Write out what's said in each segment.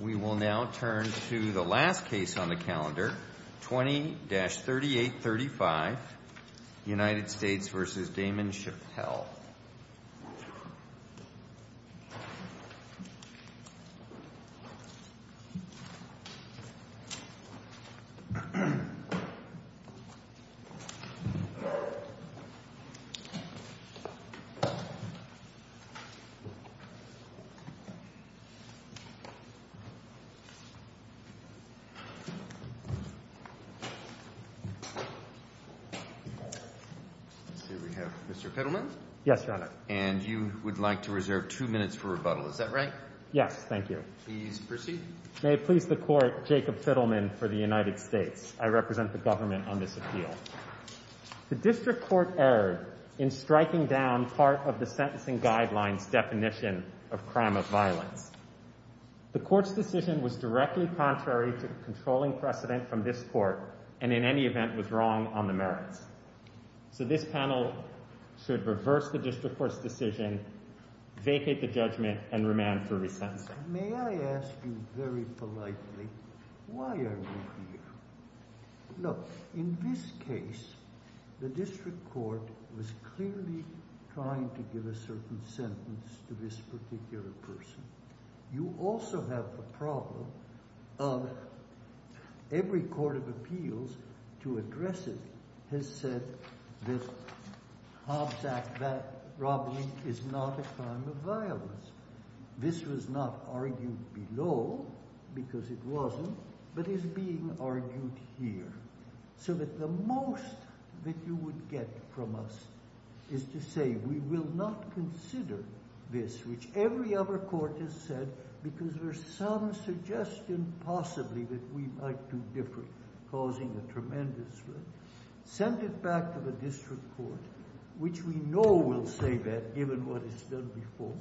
We will now turn to the last case on the calendar, 20-3835, United States v. Damon Chappelle. Let's see, we have Mr. Fiddleman. Yes, Your Honor. And you would like to reserve two minutes for rebuttal, is that right? Yes, thank you. Please proceed. May it please the Court, Jacob Fiddleman for the United States. I represent the government on this appeal. The district court erred in striking down part of the sentencing guidelines definition of crime of violence. The court's decision was directly contrary to the controlling precedent from this court, and in any event was wrong on the merits. So this panel should reverse the district court's decision, vacate the judgment, and remand for resentencing. May I ask you very politely, why are you here? Look, in this case, the district court was clearly trying to give a certain sentence to this particular person. You also have the problem of every court of appeals to address it has said that Hobbs Act robbery is not a crime of violence. This was not argued below, because it wasn't, but is being argued here. So that the most that you would get from us is to say we will not consider this, which every other court has said, because there's some suggestion possibly that we might do different, causing a tremendous risk. Send it back to the district court, which we know will say that, given what it's done before,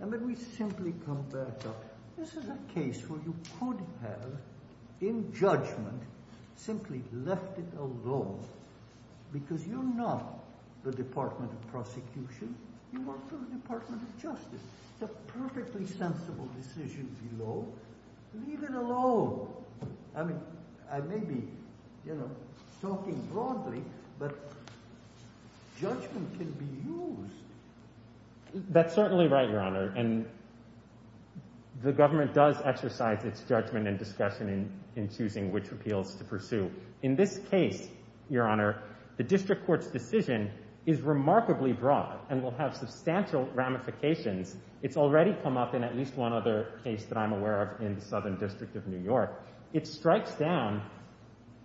and then we simply come back up. This is a case where you could have, in judgment, simply left it alone, because you're not the Department of Prosecution. You work for the Department of Justice. It's a perfectly sensible decision below. Leave it alone. I mean, I may be talking broadly, but judgment can be used. That's certainly right, Your Honor, and the government does exercise its judgment and discretion in choosing which appeals to pursue. In this case, Your Honor, the district court's decision is remarkably broad and will have substantial ramifications. It's already come up in at least one other case that I'm aware of in the Southern District of New York. It strikes down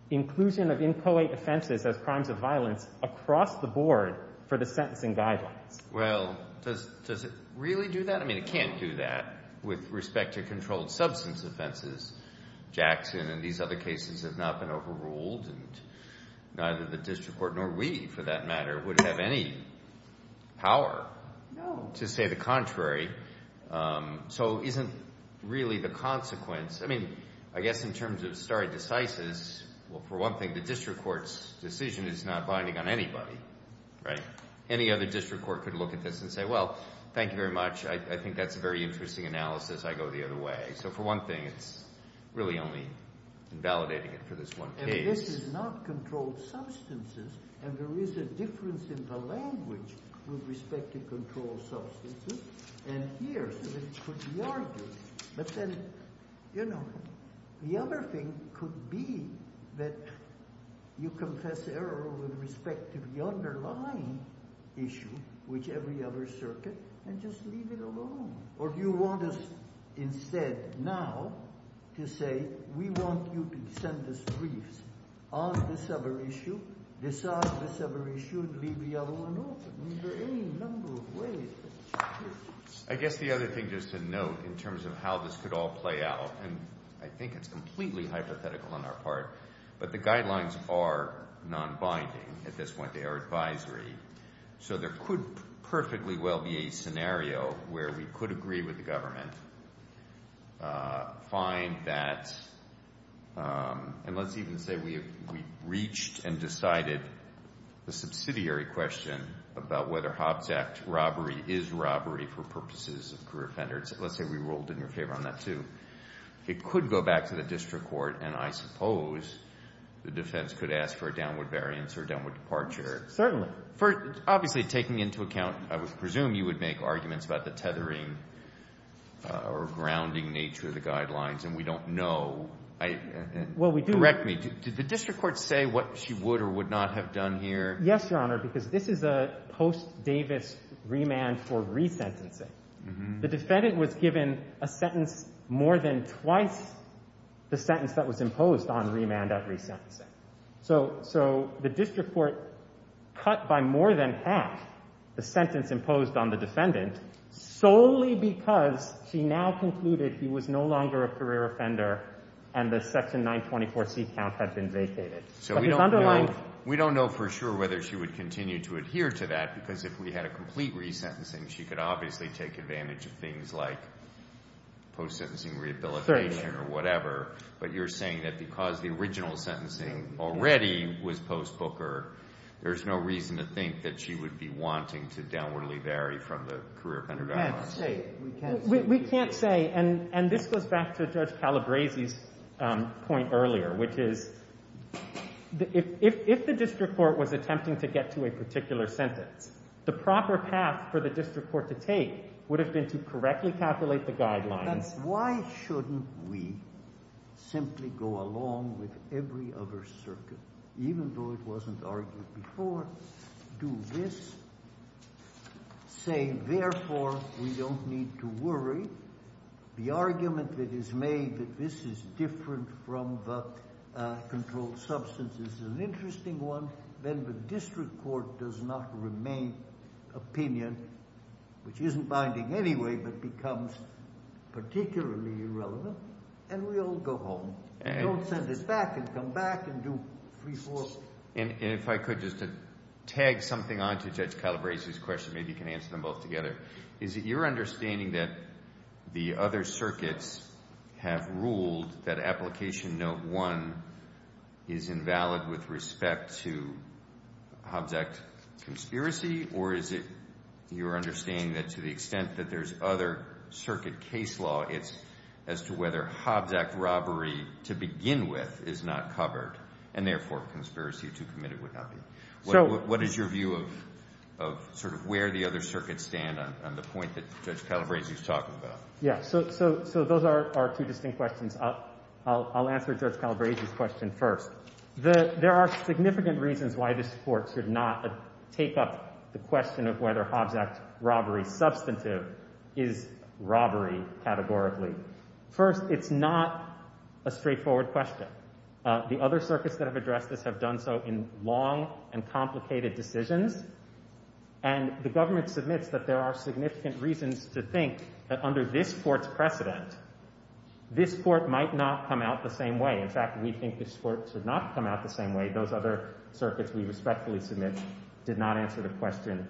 inclusion of inchoate offenses as crimes of violence across the board for the sentencing guidelines. Well, does it really do that? I mean, it can't do that with respect to controlled substance offenses. Jackson and these other cases have not been overruled, and neither the district court nor we, for that matter, would have any power to say the contrary, so isn't really the consequence – I mean, I guess in terms of stare decisis, well, for one thing, the district court's decision is not binding on anybody, right? Any other district court could look at this and say, well, thank you very much. I think that's a very interesting analysis. I go the other way. So, for one thing, it's really only invalidating it for this one case. This is not controlled substances, and there is a difference in the language with respect to controlled substances. And here, so this could be argued. But then, you know, the other thing could be that you confess error with respect to the underlying issue, which every other circuit, and just leave it alone. Or do you want us instead now to say, we want you to send us briefs on this other issue, decide this other issue, and leave the other one open? I mean, there are any number of ways. I guess the other thing just to note in terms of how this could all play out, and I think it's completely hypothetical on our part, but the guidelines are non-binding at this point. They are advisory. So there could perfectly well be a scenario where we could agree with the government, find that, and let's even say we reached and decided the subsidiary question about whether Hobbs Act robbery is robbery for purposes of career offenders. Let's say we rolled in your favor on that, too. It could go back to the district court, and I suppose the defense could ask for a downward variance or a downward departure. Certainly. Obviously, taking into account, I would presume you would make arguments about the tethering or grounding nature of the guidelines, and we don't know. Well, we do. Correct me. Did the district court say what she would or would not have done here? Yes, Your Honor, because this is a post-Davis remand for resentencing. The defendant was given a sentence more than twice the sentence that was imposed on remand at resentencing. So the district court cut by more than half the sentence imposed on the defendant solely because she now concluded he was no longer a career offender and the section 924C count had been vacated. So we don't know for sure whether she would continue to adhere to that because if we had a complete resentencing, she could obviously take advantage of things like post-sentencing rehabilitation or whatever, but you're saying that because the original sentencing already was post-Booker, there's no reason to think that she would be wanting to downwardly vary from the career offender guidelines. We can't say. We can't say. And this goes back to Judge Calabresi's point earlier, which is if the district court was attempting to get to a particular sentence, the proper path for the district court to take would have been to correctly calculate the guidelines. Why shouldn't we simply go along with every other circuit, even though it wasn't argued before, do this? Say, therefore, we don't need to worry. The argument that is made that this is different from the controlled substance is an interesting one. Then the district court does not remain opinion, which isn't binding anyway, but becomes particularly irrelevant, and we all go home. We don't send it back and come back and do three, four. And if I could just tag something on to Judge Calabresi's question, maybe you can answer them both together, is it your understanding that the other circuits have ruled that application note one is invalid with respect to Hobbs Act conspiracy, or is it your understanding that to the extent that there's other circuit case law, it's as to whether Hobbs Act robbery to begin with is not covered and, therefore, conspiracy to commit it would not be? What is your view of sort of where the other circuits stand on the point that Judge Calabresi is talking about? Yeah, so those are two distinct questions. I'll answer Judge Calabresi's question first. There are significant reasons why this Court should not take up the question of whether Hobbs Act robbery substantive is robbery categorically. First, it's not a straightforward question. The other circuits that have addressed this have done so in long and complicated decisions, and the government submits that there are significant reasons to think that under this Court's precedent, this Court might not come out the same way. In fact, we think this Court should not come out the same way. Those other circuits we respectfully submit did not answer the question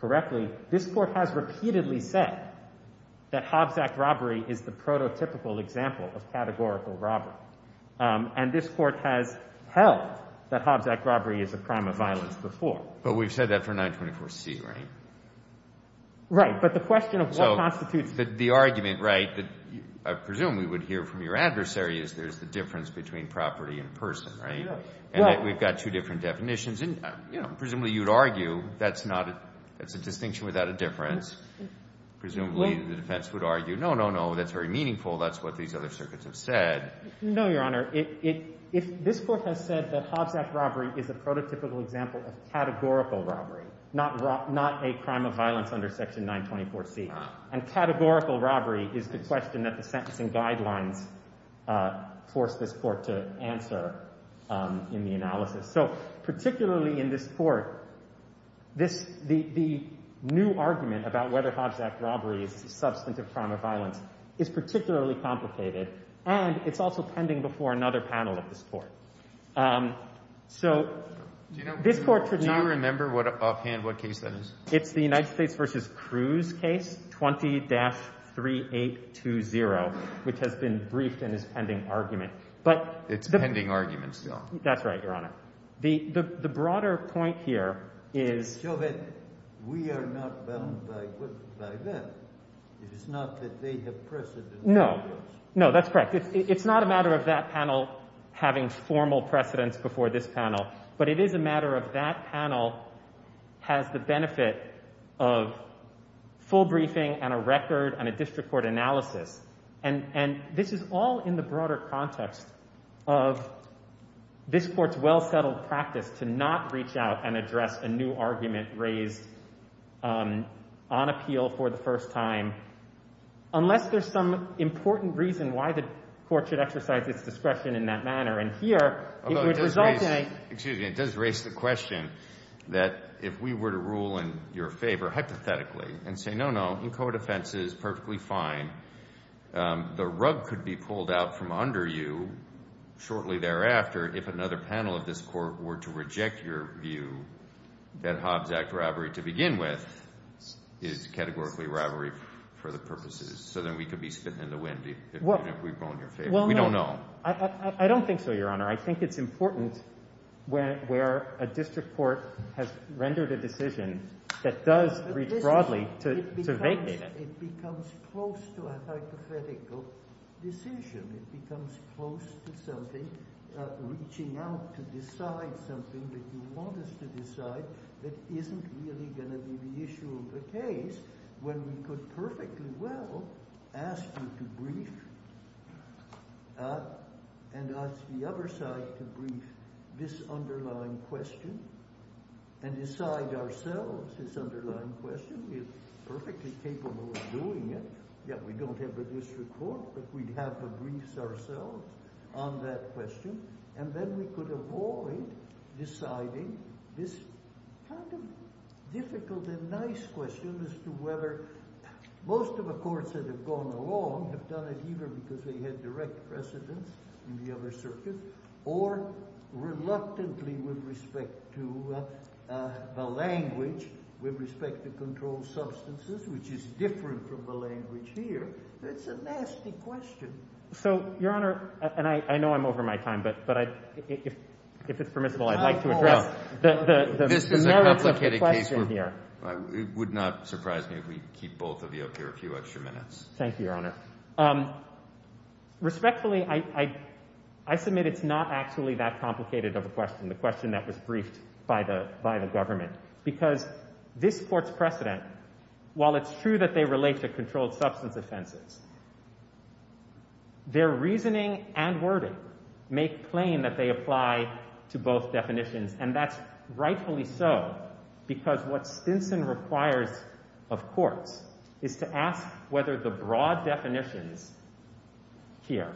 correctly. This Court has repeatedly said that Hobbs Act robbery is the prototypical example of categorical robbery. And this Court has held that Hobbs Act robbery is a crime of violence before. But we've said that for 924C, right? Right. But the question of what constitutes— So the argument, right, that I presume we would hear from your adversary is there's the difference between property and person, right? And that we've got two different definitions. And, you know, presumably you'd argue that's not a—that's a distinction without a difference. Presumably the defense would argue, no, no, no, that's very meaningful. That's what these other circuits have said. No, Your Honor. This Court has said that Hobbs Act robbery is a prototypical example of categorical robbery, not a crime of violence under Section 924C. And categorical robbery is the question that the sentencing guidelines forced this Court to answer in the analysis. So particularly in this Court, this—the new argument about whether Hobbs Act robbery is a substantive crime of violence is particularly complicated. And it's also pending before another panel of this Court. So this Court— Do you remember offhand what case that is? It's the United States v. Cruz case, 20-3820, which has been briefed and is pending argument. It's pending argument still. That's right, Your Honor. The broader point here is— So that we are not bound by that. It is not that they have precedence over us. No. No, that's correct. It's not a matter of that panel having formal precedence before this panel. But it is a matter of that panel has the benefit of full briefing and a record and a district court analysis. And this is all in the broader context of this Court's well-settled practice to not reach out and address a new argument raised on appeal for the first time unless there's some important reason why the Court should exercise its discretion in that manner. And here, it would result in a— If we were to rule in your favor, hypothetically, and say, no, no, in court offenses, perfectly fine. The rug could be pulled out from under you shortly thereafter if another panel of this Court were to reject your view that Hobbs Act robbery to begin with is categorically robbery for the purposes. So then we could be spitting in the wind if we rule in your favor. We don't know. I don't think so, Your Honor. I think it's important where a district court has rendered a decision that does reach broadly to vacate it. It becomes close to a hypothetical decision. It becomes close to something reaching out to decide something that you want us to decide that isn't really going to be the issue of the case when we could perfectly well ask you to brief and ask the other side to brief this underlying question and decide ourselves this underlying question. We're perfectly capable of doing it. Yeah, we don't have a district court, but we'd have to brief ourselves on that question. And then we could avoid deciding this kind of difficult and nice question as to whether most of the courts that have gone along have done it either because they had direct precedence in the other circuit or reluctantly with respect to the language, with respect to controlled substances, which is different from the language here. It's a nasty question. So, Your Honor, and I know I'm over my time, but if it's permissible, I'd like to address the merits of the question here. This is a complicated case. It would not surprise me if we keep both of you up here a few extra minutes. Thank you, Your Honor. Respectfully, I submit it's not actually that complicated of a question, the question that was briefed by the government, because this court's precedent, while it's true that they relate to controlled substance offenses, their reasoning and wording make plain that they apply to both definitions. And that's rightfully so, because what Stinson requires of courts is to ask whether the broad definitions here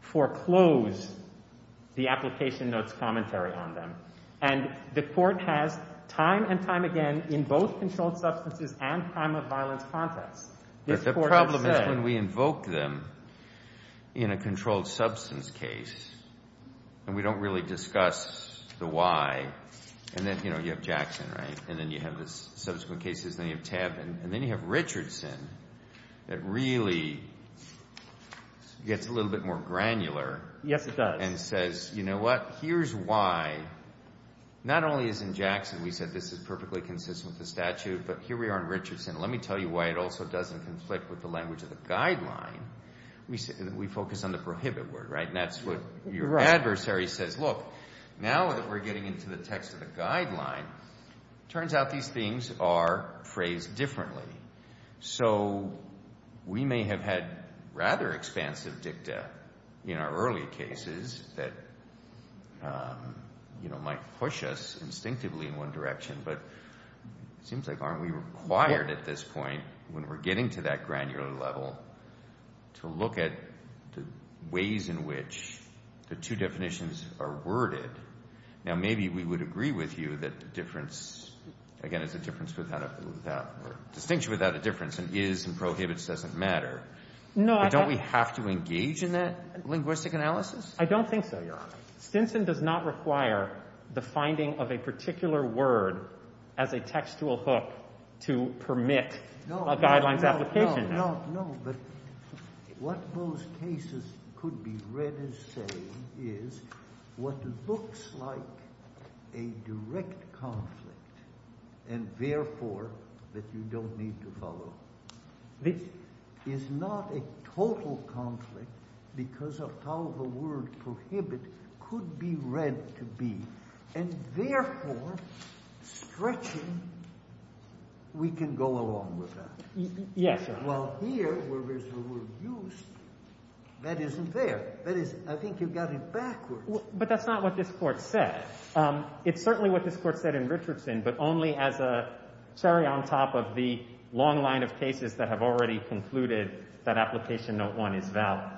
foreclose the application note's commentary on them. And the court has time and time again in both controlled substances and crime of violence contexts. But the problem is when we invoke them in a controlled substance case, and we don't really discuss the why, and then, you know, you have Jackson, right? And then you have the subsequent cases, and then you have Tebb, and then you have Richardson that really gets a little bit more granular. Yes, it does. And says, you know what? Here's why. Not only is in Jackson we said this is perfectly consistent with the statute, but here we are in Richardson. Let me tell you why it also doesn't conflict with the language of the guideline. We focus on the prohibit word, right? And that's what your adversary says. Look, now that we're getting into the text of the guideline, turns out these things are phrased differently. So we may have had rather expansive dicta in our early cases that, you know, might push us instinctively in one direction. But it seems like aren't we required at this point when we're getting to that granular level to look at the ways in which the two definitions are worded? Now, maybe we would agree with you that difference, again, is a difference without a distinction without a difference, and is and prohibits doesn't matter. But don't we have to engage in that linguistic analysis? I don't think so, Your Honor. Stinson does not require the finding of a particular word as a textual hook to permit a guideline's application. No, but what those cases could be read as saying is what looks like a direct conflict and therefore that you don't need to follow, which is not a total conflict because of how the word prohibit could be read to be, and therefore stretching, we can go along with that. Yes, Your Honor. Well, here, where there's a word use, that isn't there. That is, I think you've got it backwards. But that's not what this court said. It's certainly what this court said in Richardson, but only as a cherry on top of the long line of cases that have already concluded that application note one is valid.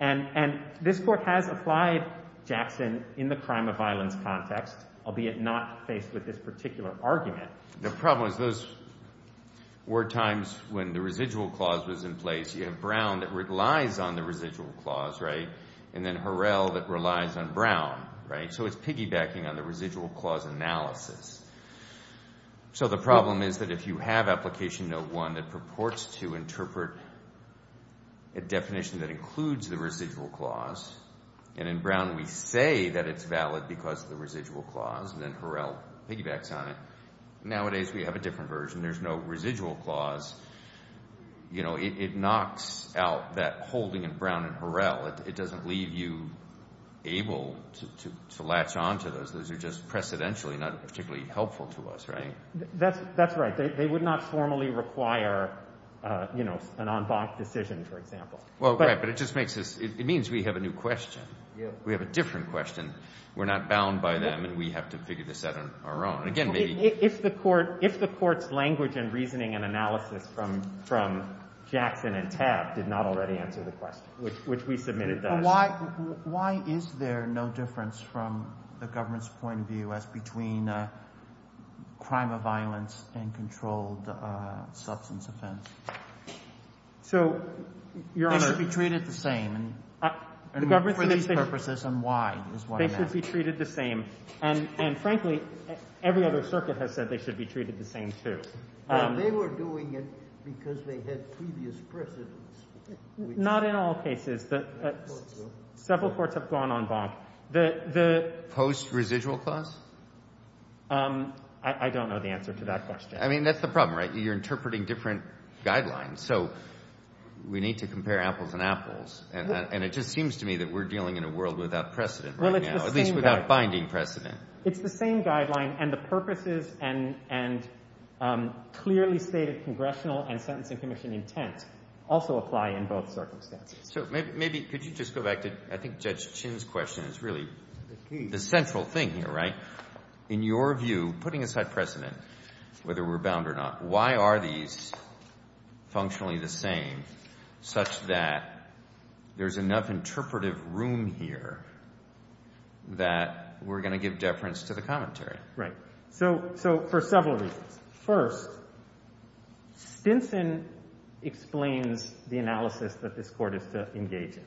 And this court has applied Jackson in the crime of violence context, albeit not faced with this particular argument. The problem is those were times when the residual clause was in place. You have Brown that relies on the residual clause, right? And then Harrell that relies on Brown, right? So it's piggybacking on the residual clause analysis. So the problem is that if you have application note one that purports to interpret a definition that includes the residual clause, and in Brown we say that it's valid because of the residual clause, and then Harrell piggybacks on it. Nowadays we have a different version. There's no residual clause. You know, it knocks out that holding in Brown and Harrell. It doesn't leave you able to latch on to those. Those are just precedentially not particularly helpful to us, right? That's right. They would not formally require, you know, an en banc decision, for example. Well, right, but it just makes us ‑‑ it means we have a new question. We have a different question. We're not bound by them, and we have to figure this out on our own. Again, maybe ‑‑ If the court's language and reasoning and analysis from Jackson and Tabb did not already answer the question, which we submitted does. Why is there no difference from the government's point of view as between crime of violence and controlled substance offense? So, Your Honor ‑‑ They should be treated the same, and for these purposes, and why is what matters. They should be treated the same, and frankly, every other circuit has said they should be treated the same, too. They were doing it because they had previous precedence. Not in all cases. Several courts have gone en banc. The ‑‑ Post-residual clause? I don't know the answer to that question. I mean, that's the problem, right? You're interpreting different guidelines, so we need to compare apples and apples, and it just seems to me that we're dealing in a world without precedent right now, at least without binding precedent. It's the same guideline, and the purposes and clearly stated congressional and sentencing commission intent also apply in both circumstances. So, maybe, could you just go back to, I think Judge Chin's question is really the central thing here, right? In your view, putting aside precedent, whether we're bound or not, why are these functionally the same, such that there's enough interpretive room here that we're going to give deference to the commentary? Right. So, for several reasons. First, Stinson explains the analysis that this court is to engage in,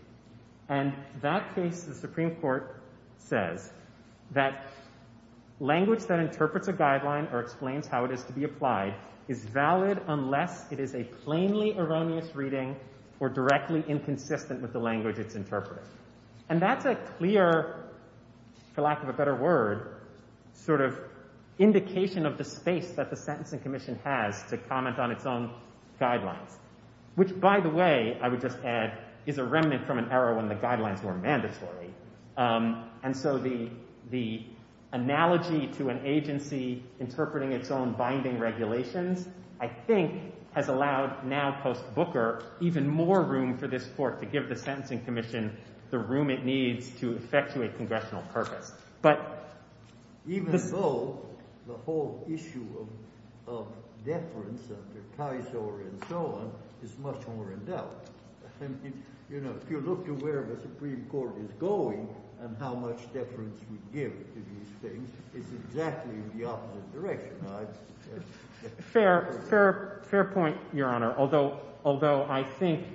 and that case, the Supreme Court says that language that interprets a guideline or explains how it is to be applied is valid unless it is a plainly erroneous reading or directly inconsistent with the language it's interpreting. And that's a clear, for lack of a better word, sort of indication of the space that the sentencing commission has to comment on its own guidelines. Which, by the way, I would just add, is a remnant from an era when the guidelines were mandatory. And so, the analogy to an agency interpreting its own binding regulations, I think, has allowed, now post-Booker, even more room for this court to give the sentencing commission the room it needs to effectuate congressional purpose. Even so, the whole issue of deference under Kaiser and so on is much more in doubt. If you look to where the Supreme Court is going and how much deference we give to these things, it's exactly the opposite direction. Fair point, Your Honor. Although, I think,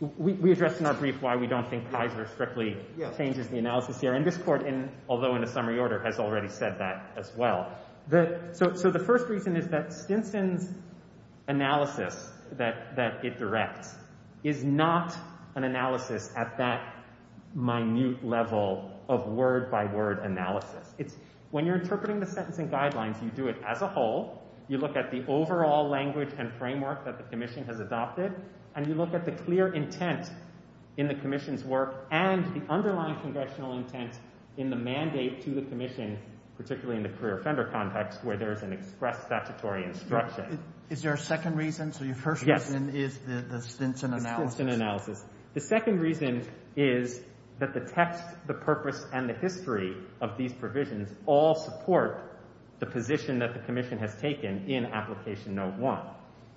we addressed in our brief why we don't think Kaiser strictly changes the analysis here. And this court, although in a summary order, has already said that as well. So, the first reason is that Stinson's analysis that it directs is not an analysis at that minute level of word-by-word analysis. When you're interpreting the sentencing guidelines, you do it as a whole. You look at the overall language and framework that the commission has adopted. And you look at the clear intent in the commission's work and the underlying congressional intent in the mandate to the commission, particularly in the career offender context, where there is an express statutory instruction. Is there a second reason? So, your first reason is the Stinson analysis. Yes, the Stinson analysis. The second reason is that the text, the purpose, and the history of these provisions all support the position that the commission has taken in Application Note 1.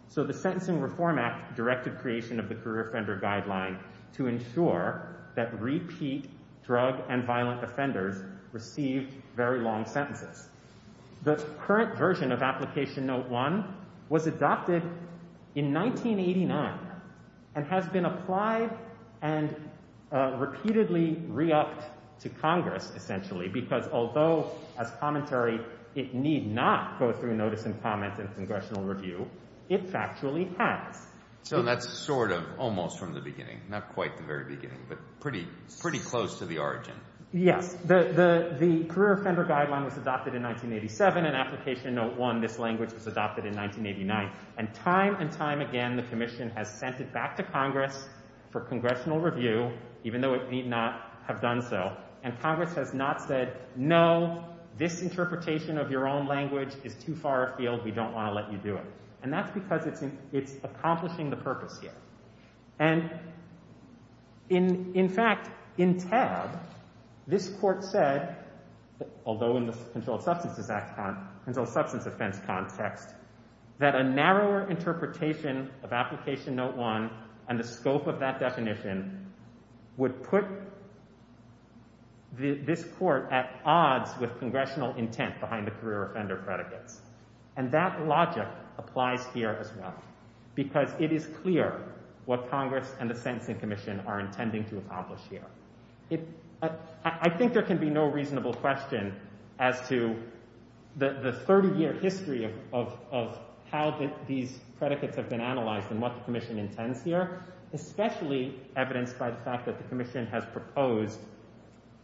So, the Sentencing Reform Act directed creation of the career offender guideline to ensure that repeat drug and violent offenders receive very long sentences. The current version of Application Note 1 was adopted in 1989 and has been applied and repeatedly re-upped to Congress, essentially, because although, as commentary, it need not go through notice and comment in congressional review, it factually has. So, that's sort of almost from the beginning, not quite the very beginning, but pretty close to the origin. Yes. The career offender guideline was adopted in 1987, and Application Note 1, this language, was adopted in 1989. And time and time again, the commission has sent it back to Congress for congressional review, even though it need not have done so. And Congress has not said, no, this interpretation of your own language is too far afield, we don't want to let you do it. And that's because it's accomplishing the purpose here. And, in fact, in tab, this Court said, although in the Controlled Substances Act, Controlled Substance Offense context, that a narrower interpretation of Application Note 1 and the scope of that definition would put this Court at odds with congressional intent behind the career offender predicates. And that logic applies here as well, because it is clear what Congress and the Sentencing Commission are intending to accomplish here. I think there can be no reasonable question as to the 30-year history of how these predicates have been analyzed and what the commission intends here, especially evidenced by the fact that the commission has proposed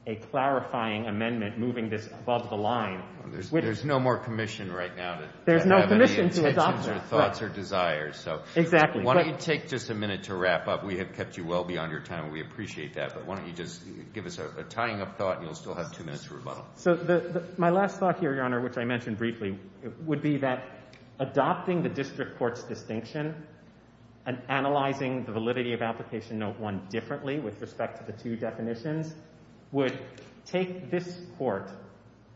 a clarifying amendment moving this above the line. There's no more commission right now to have any intentions or thoughts or desires. Exactly. Why don't you take just a minute to wrap up? We have kept you well beyond your time, and we appreciate that. But why don't you just give us a tying-up thought, and you'll still have two minutes to rebuttal. So my last thought here, Your Honor, which I mentioned briefly, would be that adopting the district court's distinction and analyzing the validity of Application Note 1 differently with respect to the two definitions would take this Court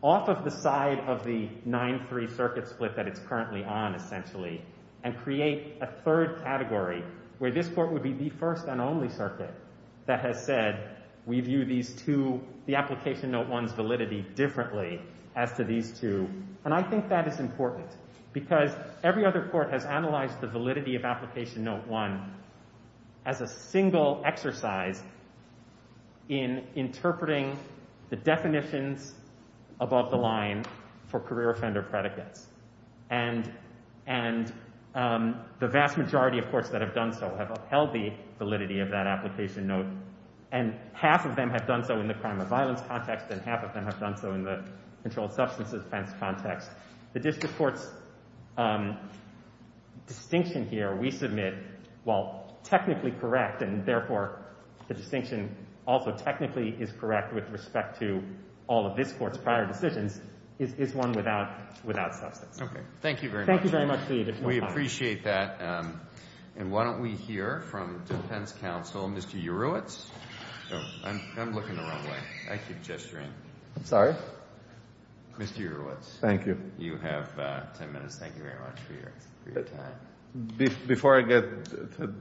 off of the side of the 9-3 circuit split that it's currently on, essentially, and create a third category where this Court would be the first and only circuit that has said, we view the Application Note 1's validity differently as to these two. And I think that is important because every other court has analyzed the validity of Application Note 1 as a single exercise in interpreting the definitions above the line for career offender predicates. And the vast majority of courts that have done so have upheld the validity of that Application Note, and half of them have done so in the crime of violence context, and half of them have done so in the controlled substance offense context. The district court's distinction here, we submit, while technically correct, and therefore the distinction also technically is correct with respect to all of this Court's prior decisions, is one without substance. Thank you very much. Thank you very much. We appreciate that. And why don't we hear from defense counsel, Mr. Urewitz. I'm looking the wrong way. I keep gesturing. I'm sorry? Mr. Urewitz. Thank you. You have 10 minutes. Thank you very much for your time. Before I get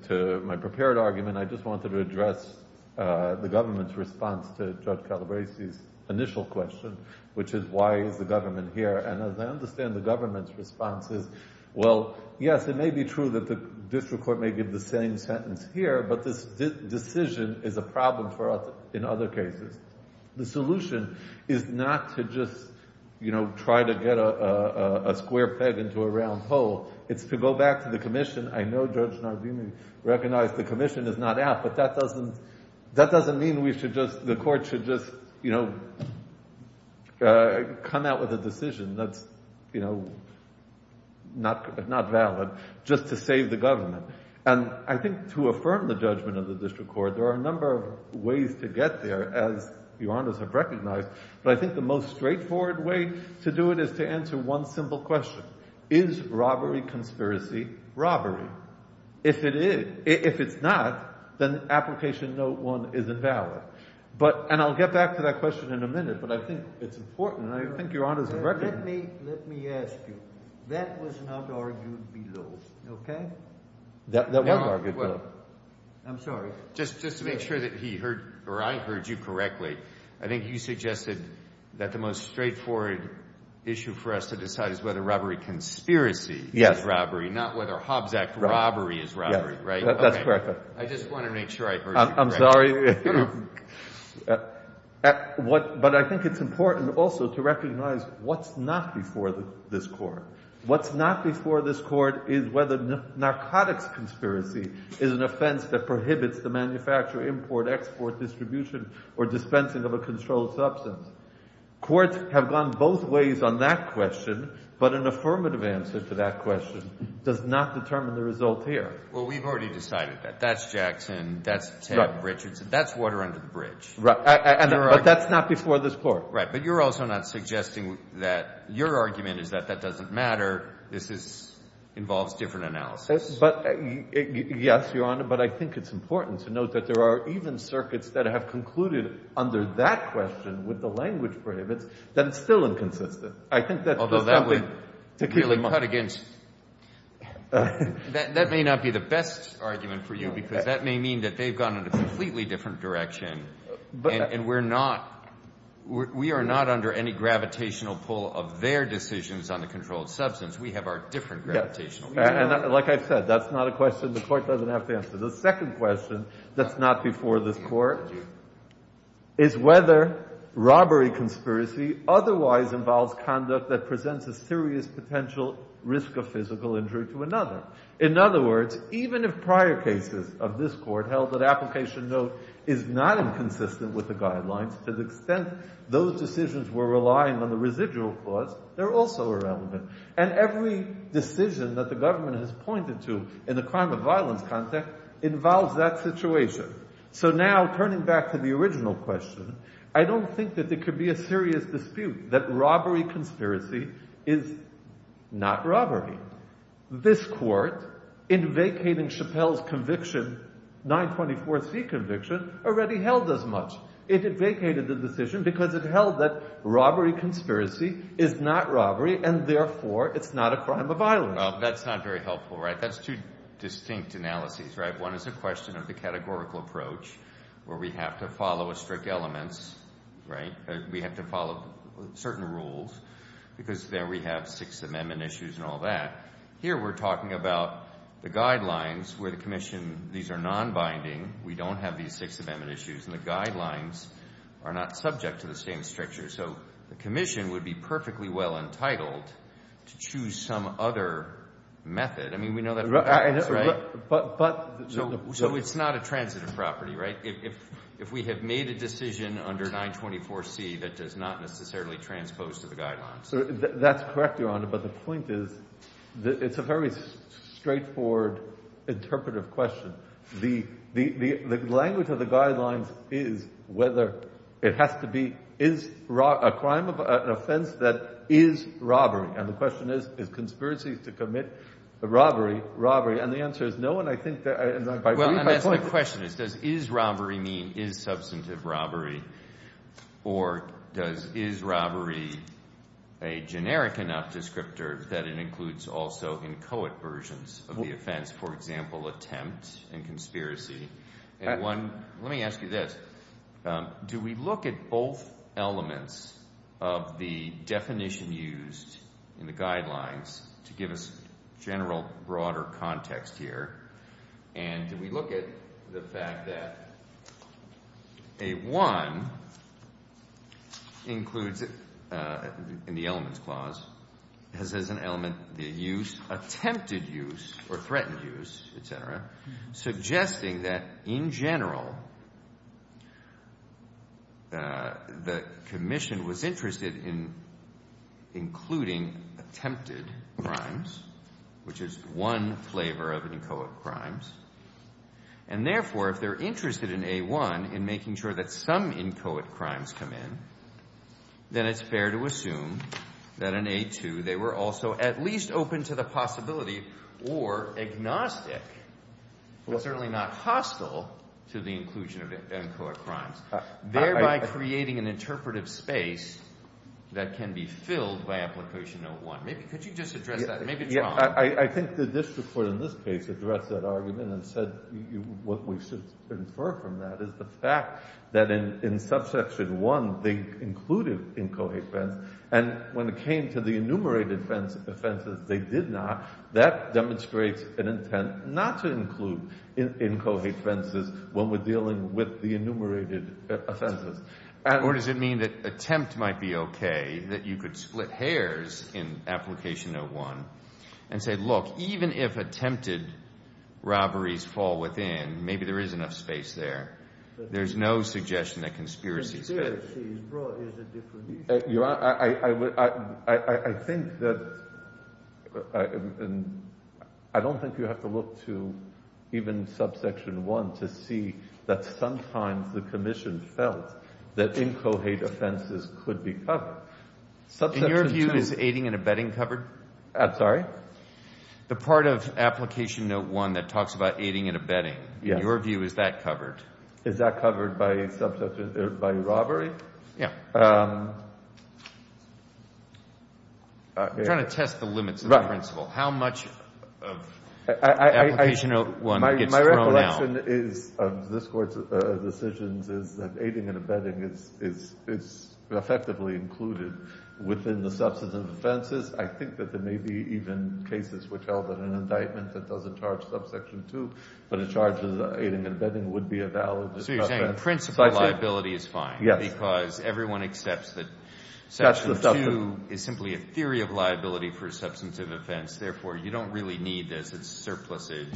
to my prepared argument, I just wanted to address the government's response to Judge Calabresi's initial question, which is, why is the government here? And as I understand the government's response is, well, yes, it may be true that the district court may give the same sentence here, but this decision is a problem for us in other cases. The solution is not to just try to get a square peg into a round hole. It's to go back to the commission. I know Judge Nardini recognized the commission is not out, but that doesn't mean the court should just come out with a decision that's not valid just to save the government. And I think to affirm the judgment of the district court, there are a number of ways to get there, as Your Honors have recognized, but I think the most straightforward way to do it is to answer one simple question. Is robbery conspiracy robbery? If it's not, then application note one isn't valid. And I'll get back to that question in a minute, but I think it's important, and I think Your Honors have recognized it. Let me ask you. That was not argued below, okay? That wasn't argued below. I'm sorry. Just to make sure that he heard or I heard you correctly, I think you suggested that the most straightforward issue for us to decide is whether robbery conspiracy is robbery, not whether Hobbs Act robbery is robbery, right? That's correct. I just want to make sure I heard you correctly. But I think it's important also to recognize what's not before this court. What's not before this court is whether narcotics conspiracy is an offense that prohibits the manufacture, import, export, distribution, or dispensing of a controlled substance. Courts have gone both ways on that question, but an affirmative answer to that question does not determine the result here. Well, we've already decided that. That's Jackson. That's Ted Richardson. That's water under the bridge. But that's not before this court. Right, but you're also not suggesting that your argument is that that doesn't matter. This involves different analysis. Yes, Your Honor, but I think it's important to note that there are even circuits that have concluded under that question with the language prohibits that it's still inconsistent. That may not be the best argument for you because that may mean that they've gone in a completely different direction. And we're not we are not under any gravitational pull of their decisions on the controlled substance. We have our different gravitation. Like I said, that's not a question the court doesn't have to answer. The second question that's not before this court is whether robbery conspiracy otherwise involves conduct that presents a serious potential risk of physical injury to another. In other words, even if prior cases of this court held that application note is not inconsistent with the guidelines, to the extent those decisions were relying on the residual clause, they're also irrelevant. And every decision that the government has pointed to in the crime of violence context involves that situation. So now turning back to the original question, I don't think that there could be a serious dispute that robbery conspiracy is not robbery. This court, in vacating Chappelle's conviction, 924C conviction, already held as much. It vacated the decision because it held that robbery conspiracy is not robbery and therefore it's not a crime of violence. That's not very helpful, right? That's two distinct analyses, right? One is a question of the categorical approach where we have to follow a strict elements, right? We have to follow certain rules because there we have Sixth Amendment issues and all that. Here we're talking about the guidelines where the commission, these are non-binding. We don't have these Sixth Amendment issues and the guidelines are not subject to the same strictures. So the commission would be perfectly well entitled to choose some other method. I mean, we know that from practice, right? So it's not a transitive property, right? If we have made a decision under 924C that does not necessarily transpose to the guidelines. That's correct, Your Honor, but the point is it's a very straightforward interpretive question. The language of the guidelines is whether it has to be a crime of offense that is robbery. And the question is, is conspiracy to commit a robbery robbery? And the answer is no, and I think that— My question is, does is robbery mean is substantive robbery or does is robbery a generic enough descriptor that it includes also inchoate versions of the offense? For example, attempt and conspiracy. Let me ask you this. Do we look at both elements of the definition used in the guidelines to give us general broader context here? And do we look at the fact that a 1 includes in the elements clause, has as an element the use, attempted use or threatened use, etc., And therefore, if they're interested in A1 in making sure that some inchoate crimes come in, then it's fair to assume that in A2 they were also at least open to the possibility or agnostic, but certainly not hostile to the inclusion of inchoate crimes, thereby creating an interpretive space that can be filled by application note 1. Maybe could you just address that? Maybe it's wrong. I think the district court in this case addressed that argument and said what we should infer from that is the fact that in subsection 1 they included inchoate offense. And when it came to the enumerated offenses, they did not. That demonstrates an intent not to include inchoate offenses when we're dealing with the enumerated offenses. Or does it mean that attempt might be okay, that you could split hairs in application note 1 and say, look, even if attempted robberies fall within, maybe there is enough space there. There's no suggestion that conspiracy is good. I think that I don't think you have to look to even subsection 1 to see that sometimes the commission felt that inchoate offenses could be covered. In your view, is aiding and abetting covered? I'm sorry? The part of application note 1 that talks about aiding and abetting, in your view, is that covered? Is that covered by robbery? Yeah. I'm trying to test the limits of the principle. How much of application note 1 gets thrown out? My recollection of this Court's decisions is that aiding and abetting is effectively included within the substance of offenses. I think that there may be even cases which held that an indictment that doesn't charge subsection 2, but it charges aiding and abetting, would be a valid substance. So you're saying principle liability is fine. Yes. Because everyone accepts that section 2 is simply a theory of liability for a substantive offense. Therefore, you don't really need this. It's surplusage.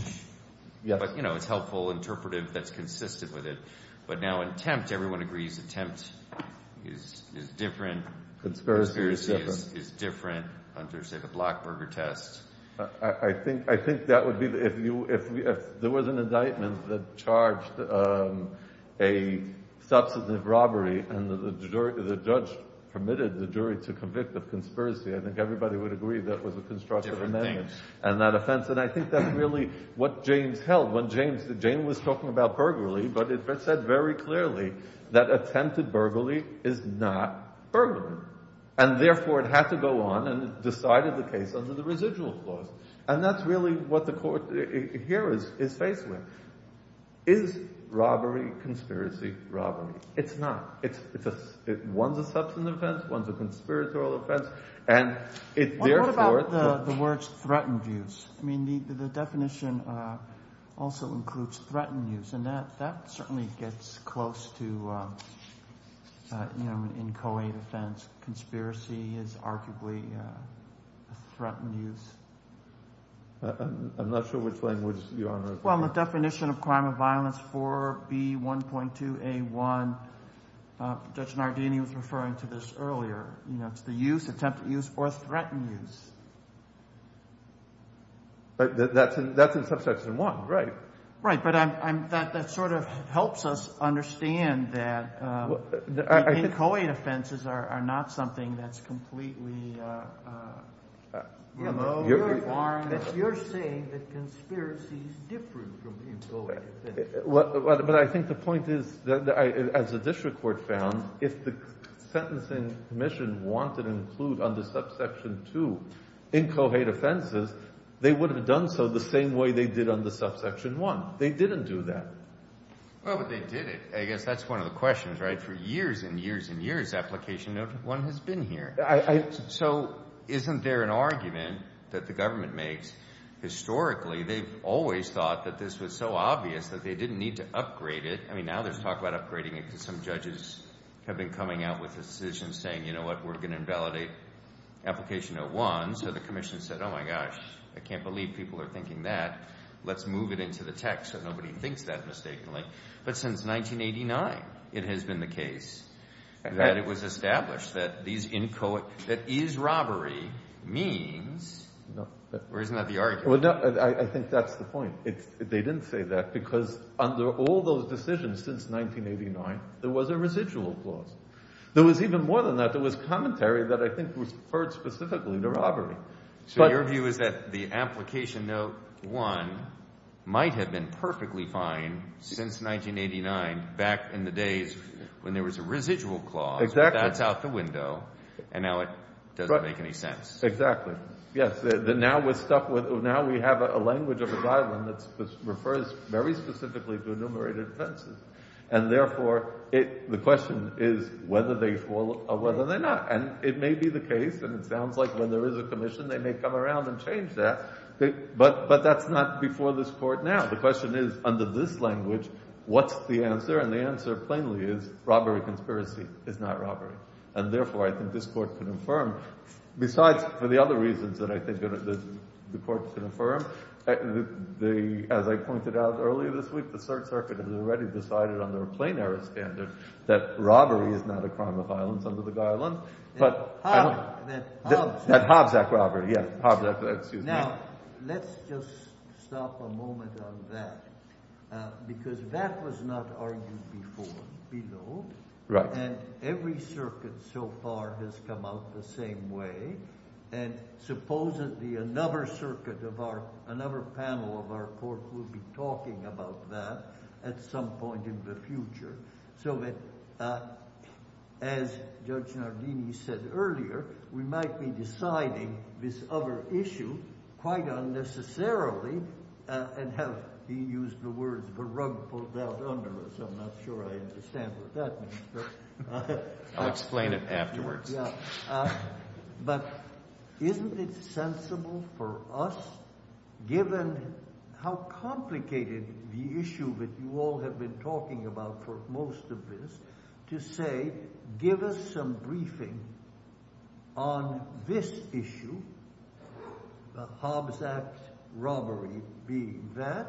Yes. But, you know, it's helpful, interpretive, that's consistent with it. But now attempt, everyone agrees, attempt is different. Conspiracy is different. Hunter, say the Blockburger test. I think that would be if there was an indictment that charged a substantive robbery and the judge permitted the jury to convict of conspiracy, I think everybody would agree that was a constructive amendment. Different thing. And that offense. And I think that's really what James held. James was talking about burglary, but it said very clearly that attempted burglary is not burglary. And therefore, it had to go on and decided the case under the residual clause. And that's really what the court here is faced with. Is robbery conspiracy robbery? It's not. One's a conspiratorial offense. What about the words threatened use? I mean, the definition also includes threatened use. And that certainly gets close to an inchoate offense. Conspiracy is arguably a threatened use. I'm not sure which language you're on. Well, the definition of crime of violence for B1.2A1, Judge Nardini was referring to this earlier. You know, it's the use, attempted use, or threatened use. But that's in Subsection 1. Right. Right. But that sort of helps us understand that inchoate offenses are not something that's completely remote. You're saying that conspiracy is different from inchoate offenses. But I think the point is, as the district court found, if the Sentencing Commission wanted to include under Subsection 2 inchoate offenses, they would have done so the same way they did under Subsection 1. They didn't do that. Well, but they did it. I guess that's one of the questions, right? For years and years and years, application no. 1 has been here. So isn't there an argument that the government makes, historically, they've always thought that this was so obvious that they didn't need to upgrade it. I mean, now there's talk about upgrading it because some judges have been coming out with decisions saying, you know what, we're going to invalidate application no. 1. So the commission said, oh, my gosh, I can't believe people are thinking that. Let's move it into the text so nobody thinks that mistakenly. But since 1989, it has been the case that it was established that these inchoate – that is robbery means – or isn't that the argument? I think that's the point. They didn't say that because under all those decisions since 1989, there was a residual clause. There was even more than that. There was commentary that I think referred specifically to robbery. So your view is that the application no. 1 might have been perfectly fine since 1989 back in the days when there was a residual clause. Exactly. But that's out the window, and now it doesn't make any sense. Exactly. Yes. Now we're stuck with – now we have a language of a guideline that refers very specifically to enumerated offenses. And therefore, the question is whether they fall or whether they're not. And it may be the case, and it sounds like when there is a commission, they may come around and change that. But that's not before this Court now. The question is under this language, what's the answer? And the answer plainly is robbery conspiracy is not robbery. And therefore, I think this Court can affirm. Besides, for the other reasons that I think the Court can affirm, as I pointed out earlier this week, the Third Circuit has already decided under a plain-errors standard that robbery is not a crime of violence under the guidelines. That Hobbs Act robbery, yes. Now let's just stop a moment on that because that was not argued before below. Right. And every circuit so far has come out the same way. And supposedly another circuit of our – another panel of our Court will be talking about that at some point in the future so that, as Judge Nardini said earlier, we might be deciding this other issue quite unnecessarily and have, he used the words, the rug pulled out under us. I'm not sure I understand what that means. I'll explain it afterwards. But isn't it sensible for us, given how complicated the issue that you all have been talking about for most of this, to say give us some briefing on this issue, the Hobbs Act robbery being that?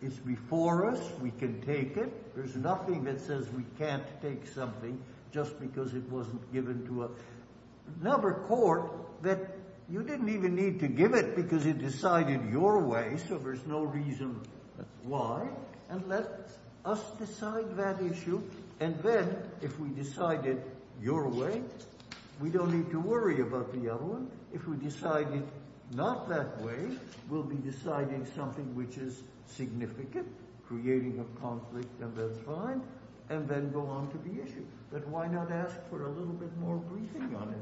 It's before us. We can take it. There's nothing that says we can't take something just because it wasn't given to us. Another court that you didn't even need to give it because it decided your way, so there's no reason why, and let us decide that issue. And then if we decide it your way, we don't need to worry about the other one. If we decide it not that way, we'll be deciding something which is significant, creating a conflict, and that's fine, and then go on to the issue. But why not ask for a little bit more briefing on it?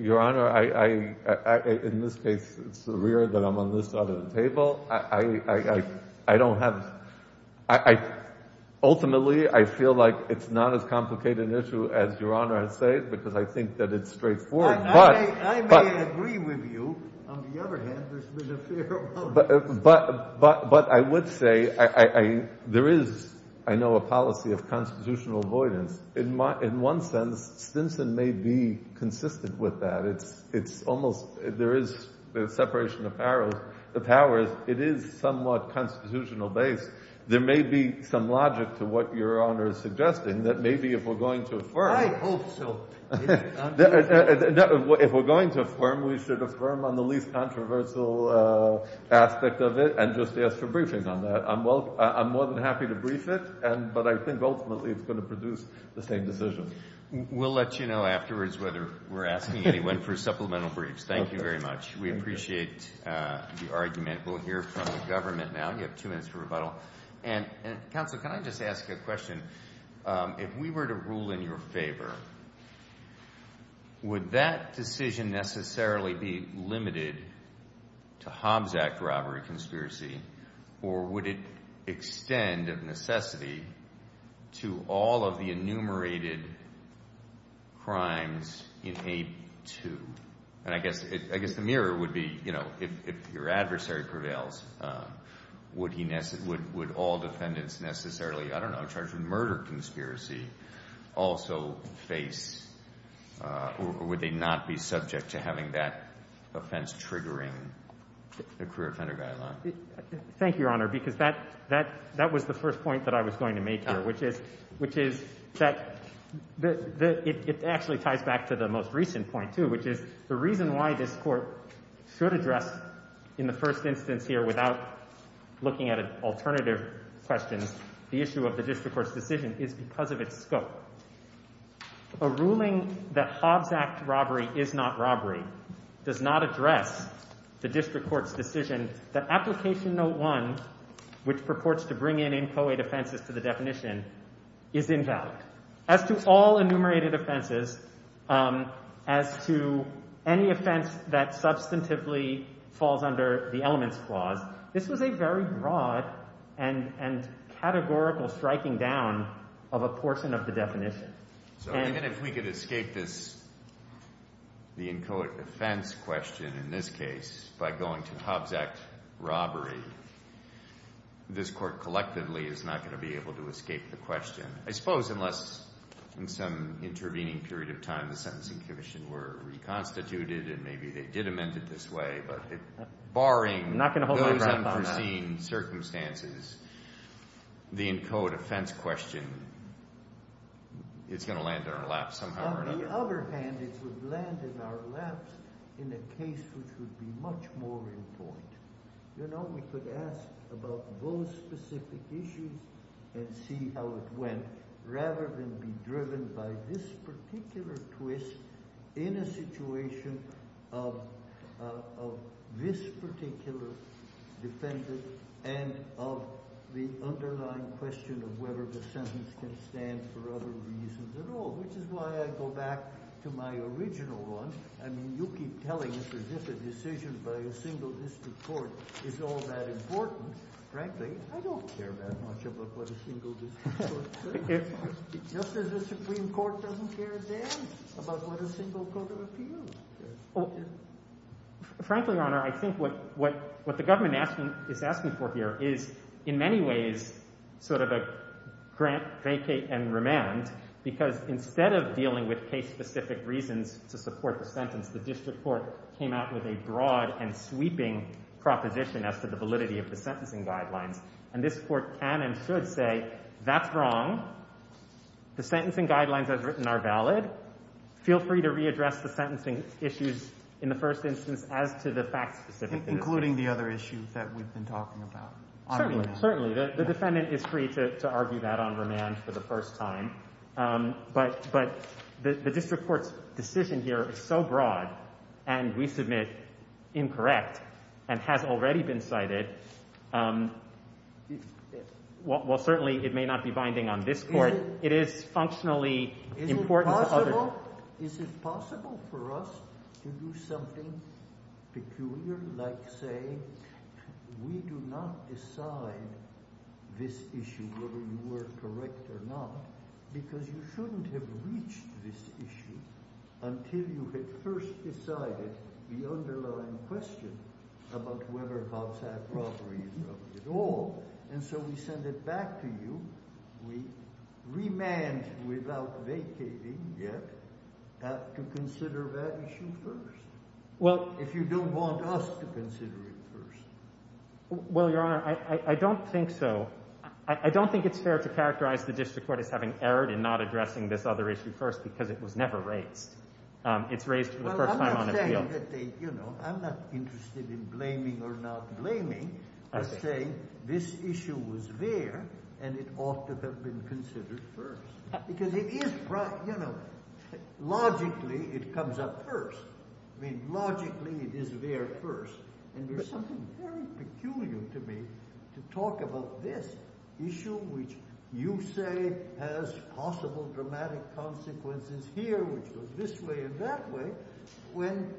Your Honor, in this case, it's surreal that I'm on this side of the table. I don't have – ultimately, I feel like it's not as complicated an issue as Your Honor has said because I think that it's straightforward. I may agree with you. On the other hand, there's been a fair amount of – But I would say there is, I know, a policy of constitutional avoidance. In one sense, Stinson may be consistent with that. It's almost – there is the separation of powers. It is somewhat constitutional-based. There may be some logic to what Your Honor is suggesting that maybe if we're going to affirm – I hope so. If we're going to affirm, we should affirm on the least controversial aspect of it and just ask for briefings on that. I'm more than happy to brief it, but I think ultimately it's going to produce the same decision. We'll let you know afterwards whether we're asking anyone for supplemental briefs. Thank you very much. We appreciate the argument. We'll hear from the government now. You have two minutes for rebuttal. Counsel, can I just ask a question? If we were to rule in your favor, would that decision necessarily be limited to Hobbs Act robbery conspiracy or would it extend of necessity to all of the enumerated crimes in A2? And I guess the mirror would be, you know, if your adversary prevails, would all defendants necessarily, I don't know, charged with murder conspiracy also face or would they not be subject to having that offense triggering the career offender guideline? Thank you, Your Honor, because that was the first point that I was going to make here, which is that it actually ties back to the most recent point too, which is the reason why this court should address in the first instance here without looking at an alternative question, the issue of the district court's decision is because of its scope. A ruling that Hobbs Act robbery is not robbery does not address the district court's decision. The application note one, which purports to bring in inchoate offenses to the definition, is invalid. As to all enumerated offenses, as to any offense that substantively falls under the elements clause, this was a very broad and categorical striking down of a portion of the definition. So even if we could escape this, the inchoate offense question in this case by going to Hobbs Act robbery, this court collectively is not going to be able to escape the question. I suppose unless in some intervening period of time the sentencing commission were reconstituted and maybe they did amend it this way, barring those unforeseen circumstances, the inchoate offense question is going to land in our laps somehow or another. On the other hand, it would land in our laps in a case which would be much more in point. You know, we could ask about those specific issues and see how it went rather than be driven by this particular twist in a situation of this particular defendant and of the underlying question of whether the sentence can stand for other reasons at all. Which is why I go back to my original one. I mean, you keep telling us as if a decision by a single district court is all that important. Frankly, I don't care that much about what a single district court says. Just as the Supreme Court doesn't care a damn about what a single court of appeals says. Frankly, Your Honor, I think what the government is asking for here is in many ways sort of a grant, vacate, and remand, because instead of dealing with case-specific reasons to support the sentence, the district court came out with a broad and sweeping proposition as to the validity of the sentencing guidelines. And this court can and should say, that's wrong. The sentencing guidelines as written are valid. Feel free to readdress the sentencing issues in the first instance as to the fact-specific issues. Including the other issues that we've been talking about. Certainly. The defendant is free to argue that on remand for the first time. But the district court's decision here is so broad, and we submit incorrect, and has already been cited. While certainly it may not be binding on this court, it is functionally important to others. Is it possible for us to do something peculiar? Like, say, we do not decide this issue, whether you were correct or not, because you shouldn't have reached this issue until you had first decided the underlying question about whether Hobbes had properties or not at all. And so we send it back to you. We remand without vacating yet to consider that issue first. If you don't want us to consider it first. Well, Your Honor, I don't think so. I don't think it's fair to characterize the district court as having erred in not addressing this other issue first because it was never raised. It's raised for the first time on appeal. Well, I'm not saying that they, you know, I'm not interested in blaming or not blaming. I'm saying this issue was there, and it ought to have been considered first. Because it is, you know, logically it comes up first. I mean, logically it is there first. And there's something very peculiar to me to talk about this issue, which you say has possible dramatic consequences here, which goes this way and that way, when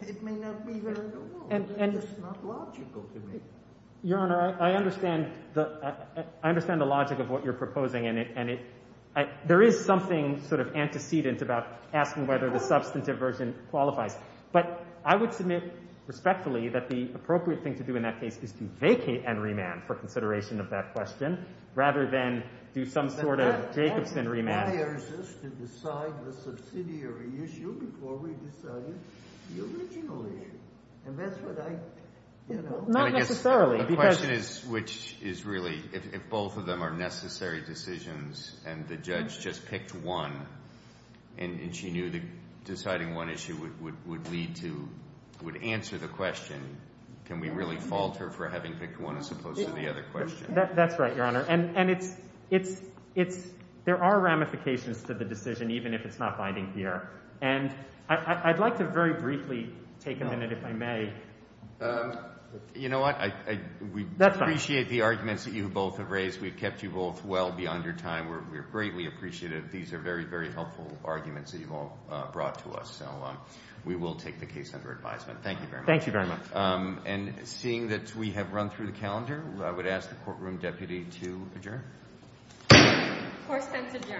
it may not be there at all. It's just not logical to me. Your Honor, I understand the logic of what you're proposing. There is something sort of antecedent about asking whether the substantive version qualifies. But I would submit respectfully that the appropriate thing to do in that case is to vacate and remand for consideration of that question rather than do some sort of Jacobson remand. That requires us to decide the subsidiary issue before we decide the original issue. And that's what I, you know. Not necessarily. The question is, which is really if both of them are necessary decisions and the judge just picked one and she knew that deciding one issue would lead to, would answer the question, can we really fault her for having picked one as opposed to the other question? That's right, Your Honor. And it's – there are ramifications to the decision, even if it's not binding here. And I'd like to very briefly take a minute, if I may. You know what? That's fine. We appreciate the arguments that you both have raised. We've kept you both well beyond your time. We're greatly appreciative. These are very, very helpful arguments that you've all brought to us. So we will take the case under advisement. Thank you very much. Thank you very much. And seeing that we have run through the calendar, I would ask the courtroom deputy to adjourn. Court is adjourned. Thank you.